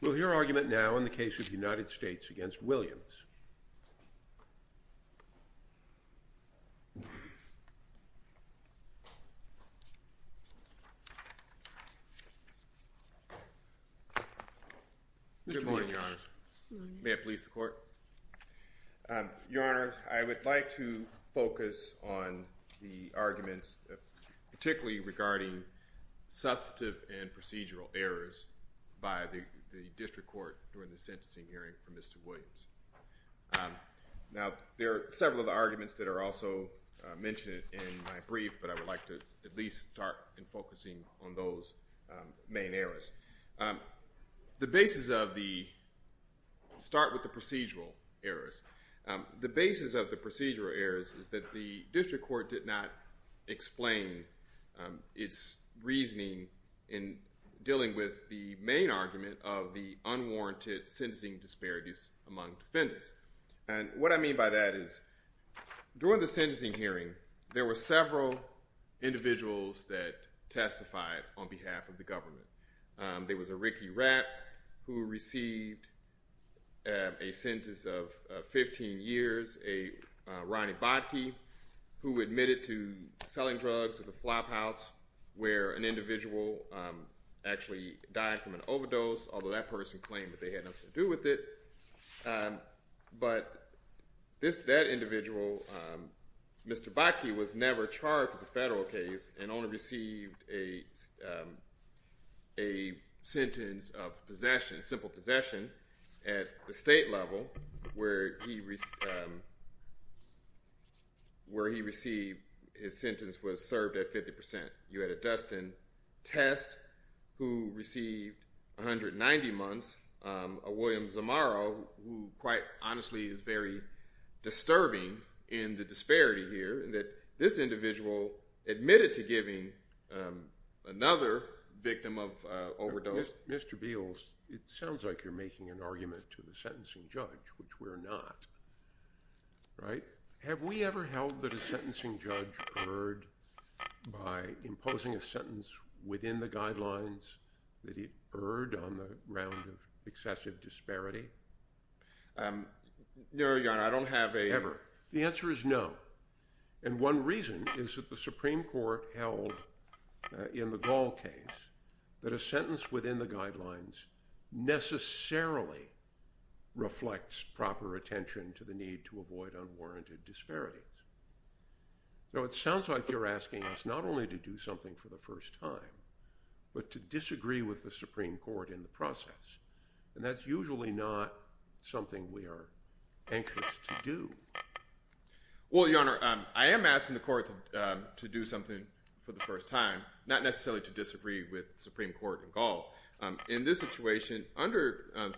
Will your argument now in the case of United States v. Williams? Good morning, Your Honor. May it please the Court? Your Honor, I would like to focus on the arguments, particularly regarding substantive and procedural errors by the district court during the sentencing hearing for Mr. Williams. Now, there are several of the arguments that are also mentioned in my brief, but I would like to at least start in focusing on those main errors. The basis of the—start with the procedural errors—the basis of the procedural errors is that the district court did not explain its reasoning in dealing with the main argument of the unwarranted sentencing disparities among defendants. And what I mean by that is, during the sentencing hearing, there were several individuals that testified on behalf of the government. There was a Ricky Rapp who received a sentence of 15 years, a Ronnie Bottke who admitted to selling drugs at the flophouse where an individual actually died from an overdose, although that person claimed that they had nothing to do with it. But this—that individual, Mr. Bottke, was never charged with a federal case and only received a sentence of possession, simple possession, at the state level where he received—his sentence was served at 50 percent. You had a Dustin Test who received 190 months, a William Zamaro who, quite honestly, is very disturbing in the disparity here in that this individual admitted to giving another victim of overdose— Mr. Beals, it sounds like you're making an argument to the sentencing judge, which we're not, right? Have we ever held that a sentencing judge erred by imposing a sentence within the guidelines that it erred on the ground of excessive disparity? No, Your Honor, I don't have a— necessarily reflects proper attention to the need to avoid unwarranted disparities. Now, it sounds like you're asking us not only to do something for the first time, but to disagree with the Supreme Court in the process, and that's usually not something we are anxious to do. Well, Your Honor, I am asking the court to do something for the first time, not necessarily to disagree with the Supreme Court in Gaul. In this situation, under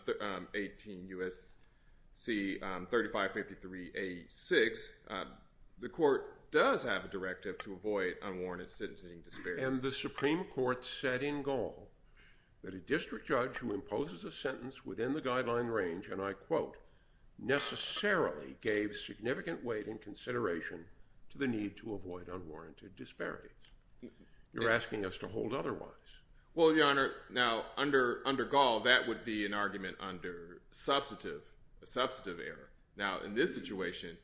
18 U.S.C. 3553A6, the court does have a directive to avoid unwarranted sentencing disparities. And the Supreme Court said in Gaul that a district judge who imposes a sentence within the guideline range, and I quote, necessarily gave significant weight and consideration to the need to avoid unwarranted disparities. You're asking us to hold otherwise. Well, Your Honor, now, under Gaul, that would be an argument under substantive error. Now, in this situation,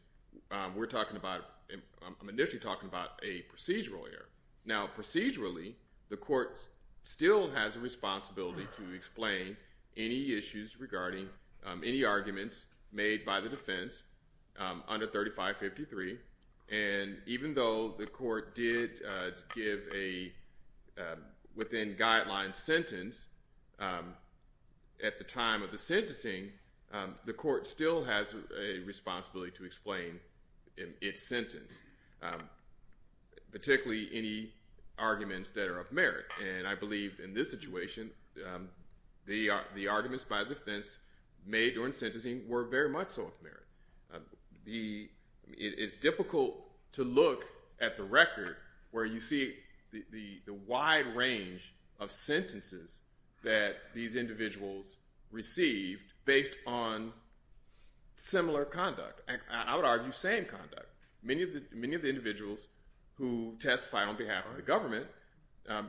we're talking about—I'm initially talking about a procedural error. Now, procedurally, the court still has a responsibility to explain any issues regarding any arguments made by the defense under 3553, and even though the court did give a within-guideline sentence at the time of the sentencing, the court still has a responsibility to explain its sentence. Particularly any arguments that are of merit, and I believe in this situation, the arguments by the defense made during sentencing were very much so of merit. It's difficult to look at the record where you see the wide range of sentences that these individuals received based on similar conduct, and I would argue same conduct. Many of the individuals who testified on behalf of the government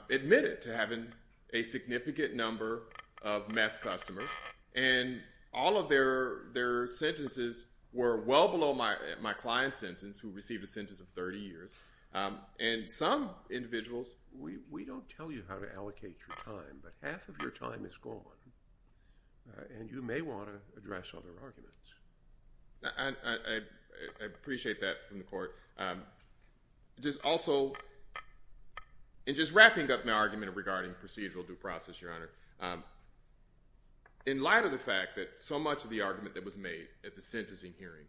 admitted to having a significant number of meth customers, and all of their sentences were well below my client's sentence, who received a sentence of 30 years, and some individuals— We don't tell you how to allocate your time, but half of your time is gone, and you may want to address other arguments. I appreciate that from the court. Just also—and just wrapping up my argument regarding procedural due process, Your Honor, in light of the fact that so much of the argument that was made at the sentencing hearing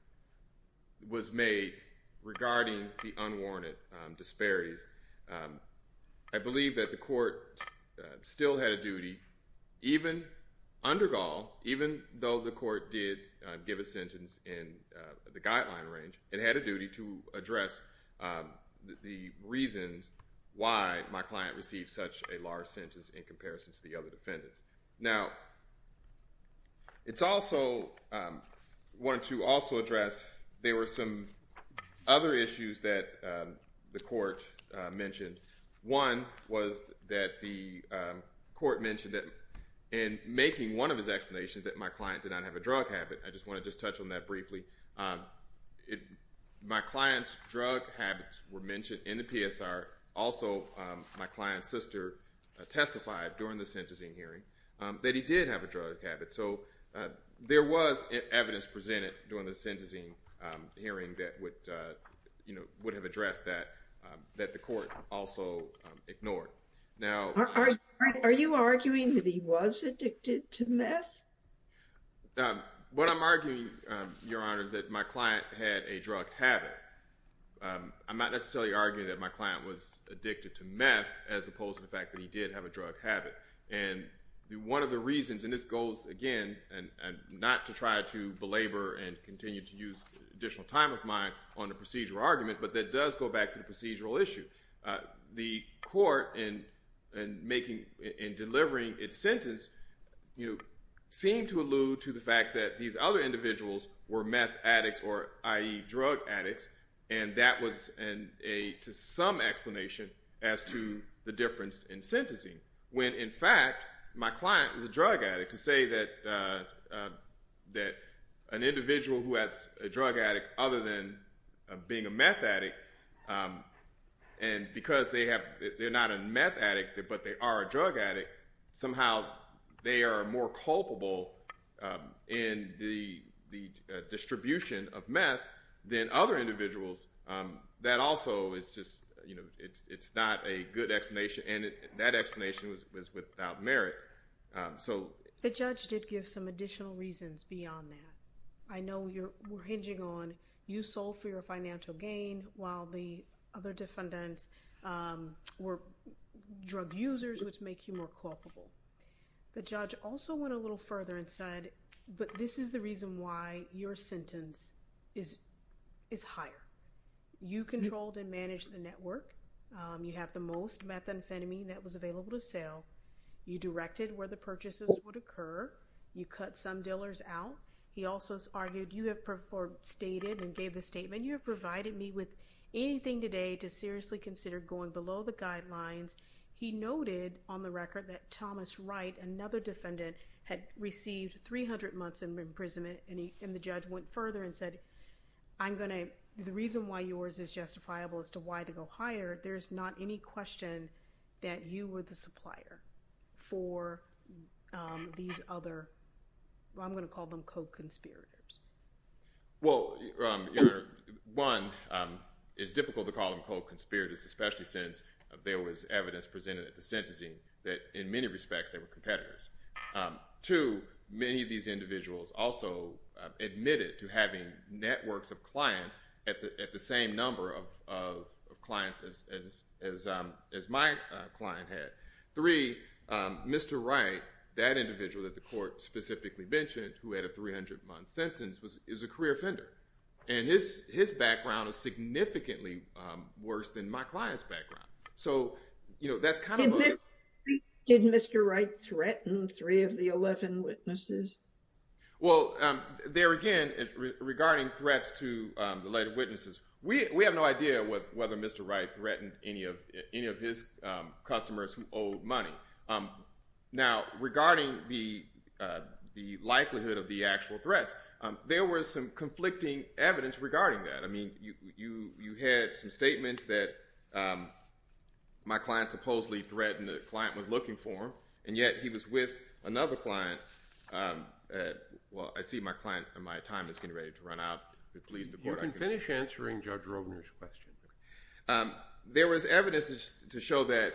was made regarding the unwarranted disparities, I believe that the court still had a duty, even under Gaul, even though the court did give a sentence in the guideline range, it had a duty to address the reasons why my client received such a large sentence in comparison to the other defendants. Now, it's also—I wanted to also address—there were some other issues that the court mentioned. One was that the court mentioned that in making one of his explanations that my client did not have a drug habit. I just want to just touch on that briefly. My client's drug habits were mentioned in the PSR. Also, my client's sister testified during the sentencing hearing that he did have a drug habit, so there was evidence presented during the sentencing hearing that would have addressed that, that the court also ignored. Are you arguing that he was addicted to meth? What I'm arguing, Your Honor, is that my client had a drug habit. I'm not necessarily arguing that my client was addicted to meth as opposed to the fact that he did have a drug habit. And one of the reasons—and this goes, again, not to try to belabor and continue to use additional time of mine on the procedural argument, but that does go back to the procedural issue. The court, in making—in delivering its sentence, seemed to allude to the fact that these other individuals were meth addicts or, i.e., drug addicts, and that was a—to some explanation as to the difference in sentencing. When, in fact, my client was a drug addict, to say that an individual who has a drug addict other than being a meth addict, and because they have—they're not a meth addict, but they are a drug addict, somehow they are more culpable in the distribution of meth than other individuals, that also is just—it's not a good explanation. And that explanation was without merit. So— The judge did give some additional reasons beyond that. I know you're—we're hinging on you sold for your financial gain while the other defendants were drug users, which make you more culpable. The judge also went a little further and said, but this is the reason why your sentence is higher. You controlled and managed the network. You have the most methamphetamine that was available to sale. You directed where the purchases would occur. You cut some dealers out. He also argued you have stated and gave the statement, you have provided me with anything today to seriously consider going below the guidelines. He noted on the record that Thomas Wright, another defendant, had received 300 months in imprisonment, and the judge went further and said, I'm going to—the reason why yours is justifiable as to why to go higher, there's not any question that you were the supplier for these other—I'm going to call them co-conspirators. Well, your—one, it's difficult to call them co-conspirators, especially since there was evidence presented at the sentencing that in many respects they were competitors. Two, many of these individuals also admitted to having networks of clients at the same number of clients as my client had. Three, Mr. Wright, that individual that the court specifically mentioned, who had a 300-month sentence, is a career offender, and his background is significantly worse than my client's background. So that's kind of a— Did Mr. Wright threaten three of the 11 witnesses? Well, there again, regarding threats to the later witnesses, we have no idea whether Mr. Wright threatened any of his customers who owed money. Now, regarding the likelihood of the actual threats, there was some conflicting evidence regarding that. I mean, you had some statements that my client supposedly threatened the client was looking for him, and yet he was with another client. Well, I see my client and my time is getting ready to run out. If it pleases the Court, I can— You can finish answering Judge Rogner's question. There was evidence to show that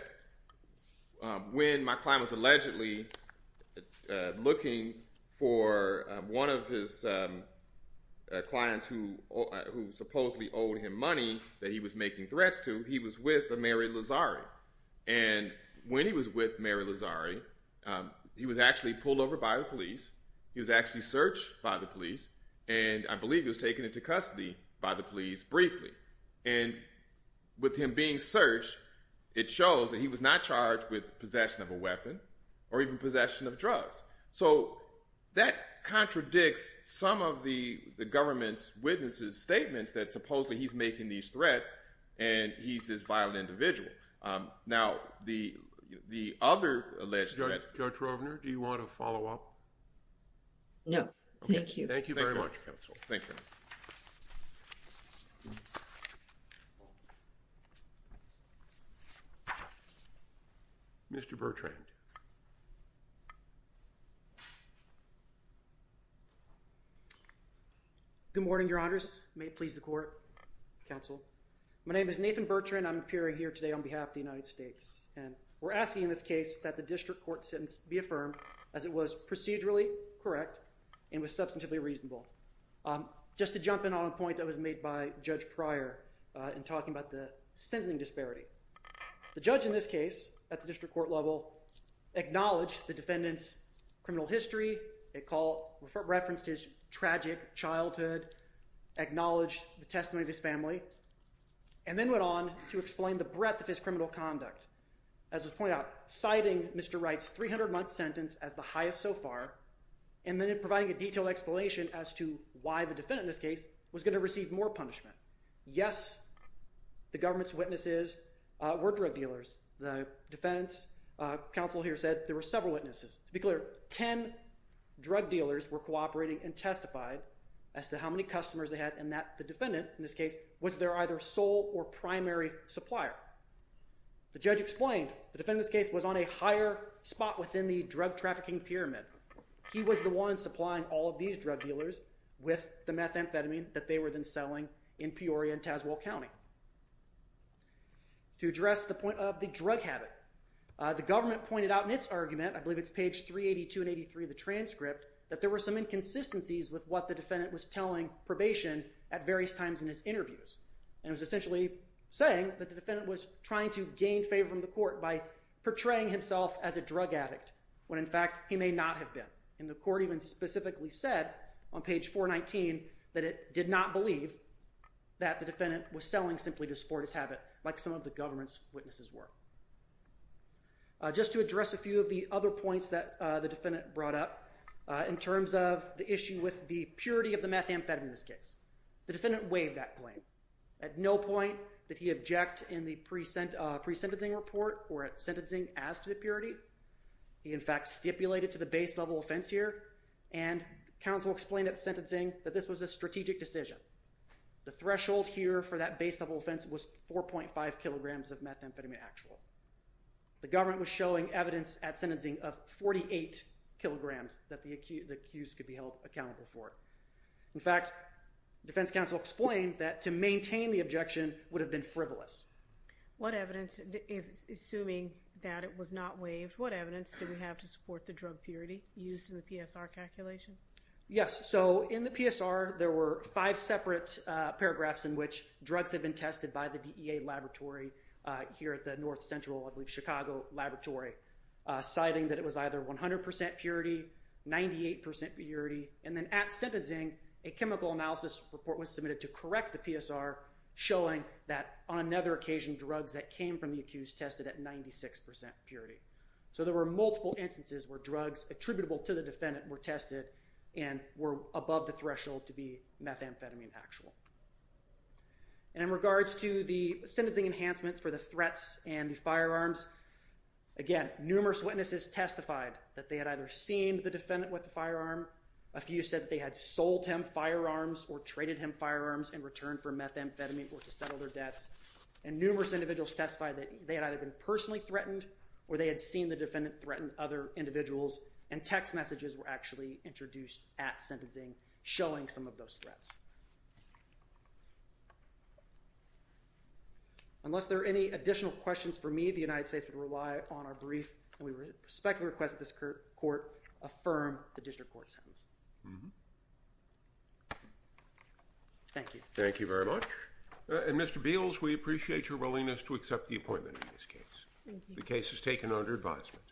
when my client was allegedly looking for one of his clients who supposedly owed him money that he was making threats to, he was with a Mary Lazari. And when he was with Mary Lazari, he was actually pulled over by the police. He was actually searched by the police, and I believe he was taken into custody by the police briefly. And with him being searched, it shows that he was not charged with possession of a weapon or even possession of drugs. So that contradicts some of the government's witnesses' statements that supposedly he's making these threats and he's this violent individual. Now, the other alleged threats— Judge Rogner, do you want to follow up? No, thank you. Thank you very much, counsel. Thank you. Thank you. Mr. Bertrand. Good morning, Your Honors. May it please the Court, counsel. My name is Nathan Bertrand. I'm appearing here today on behalf of the United States. And we're asking in this case that the district court sentence be affirmed as it was procedurally correct and was substantively reasonable. Just to jump in on a point that was made by Judge Pryor in talking about the sentencing disparity. The judge in this case at the district court level acknowledged the defendant's criminal history. It referenced his tragic childhood, acknowledged the testimony of his family, and then went on to explain the breadth of his criminal conduct. As was pointed out, citing Mr. Wright's 300-month sentence as the highest so far and then providing a detailed explanation as to why the defendant in this case was going to receive more punishment. Yes, the government's witnesses were drug dealers. The defense counsel here said there were several witnesses. To be clear, 10 drug dealers were cooperating and testified as to how many customers they had and that the defendant in this case was their either sole or primary supplier. The judge explained the defendant in this case was on a higher spot within the drug trafficking pyramid. He was the one supplying all of these drug dealers with the methamphetamine that they were then selling in Peoria and Tazewell County. To address the point of the drug habit, the government pointed out in its argument, I believe it's page 382 and 83 of the transcript, that there were some inconsistencies with what the defendant was telling probation at various times in his interviews. It was essentially saying that the defendant was trying to gain favor from the court by portraying himself as a drug addict when in fact he may not have been. The court even specifically said on page 419 that it did not believe that the defendant was selling simply to support his habit like some of the government's witnesses were. Just to address a few of the other points that the defendant brought up in terms of the issue with the purity of the methamphetamine in this case, the defendant waived that claim at no point did he object in the pre-sentencing report or at sentencing as to the purity. He in fact stipulated to the base level offense here and counsel explained at sentencing that this was a strategic decision. The threshold here for that base level offense was 4.5 kilograms of methamphetamine actual. The government was showing evidence at sentencing of 48 kilograms that the accused could be held accountable for. In fact, defense counsel explained that to maintain the objection would have been frivolous. What evidence, assuming that it was not waived, what evidence do we have to support the drug purity used in the PSR calculation? Yes, so in the PSR there were five separate paragraphs in which drugs have been tested by the DEA laboratory here at the north central Chicago laboratory citing that it was either 100% purity, 98% purity, and then at sentencing a chemical analysis report was submitted to correct the PSR showing that on another occasion drugs that came from the accused tested at 96% purity. So there were multiple instances where drugs attributable to the defendant were tested and were above the threshold to be methamphetamine actual. And in regards to the sentencing enhancements for the threats and the firearms, again, numerous witnesses testified that they had either seen the defendant with the firearm, a few said they had sold him firearms or traded him firearms in return for methamphetamine or to settle their debts, and numerous individuals testified that they had either been personally threatened or they had seen the defendant threaten other individuals and text messages were actually introduced at sentencing showing some of those threats. Unless there are any additional questions for me, the United States would rely on our brief, and we respectfully request that this court affirm the district court sentence. Thank you. Thank you very much. And Mr. Beals, we appreciate your willingness to accept the appointment in this case. The case is taken under advisement.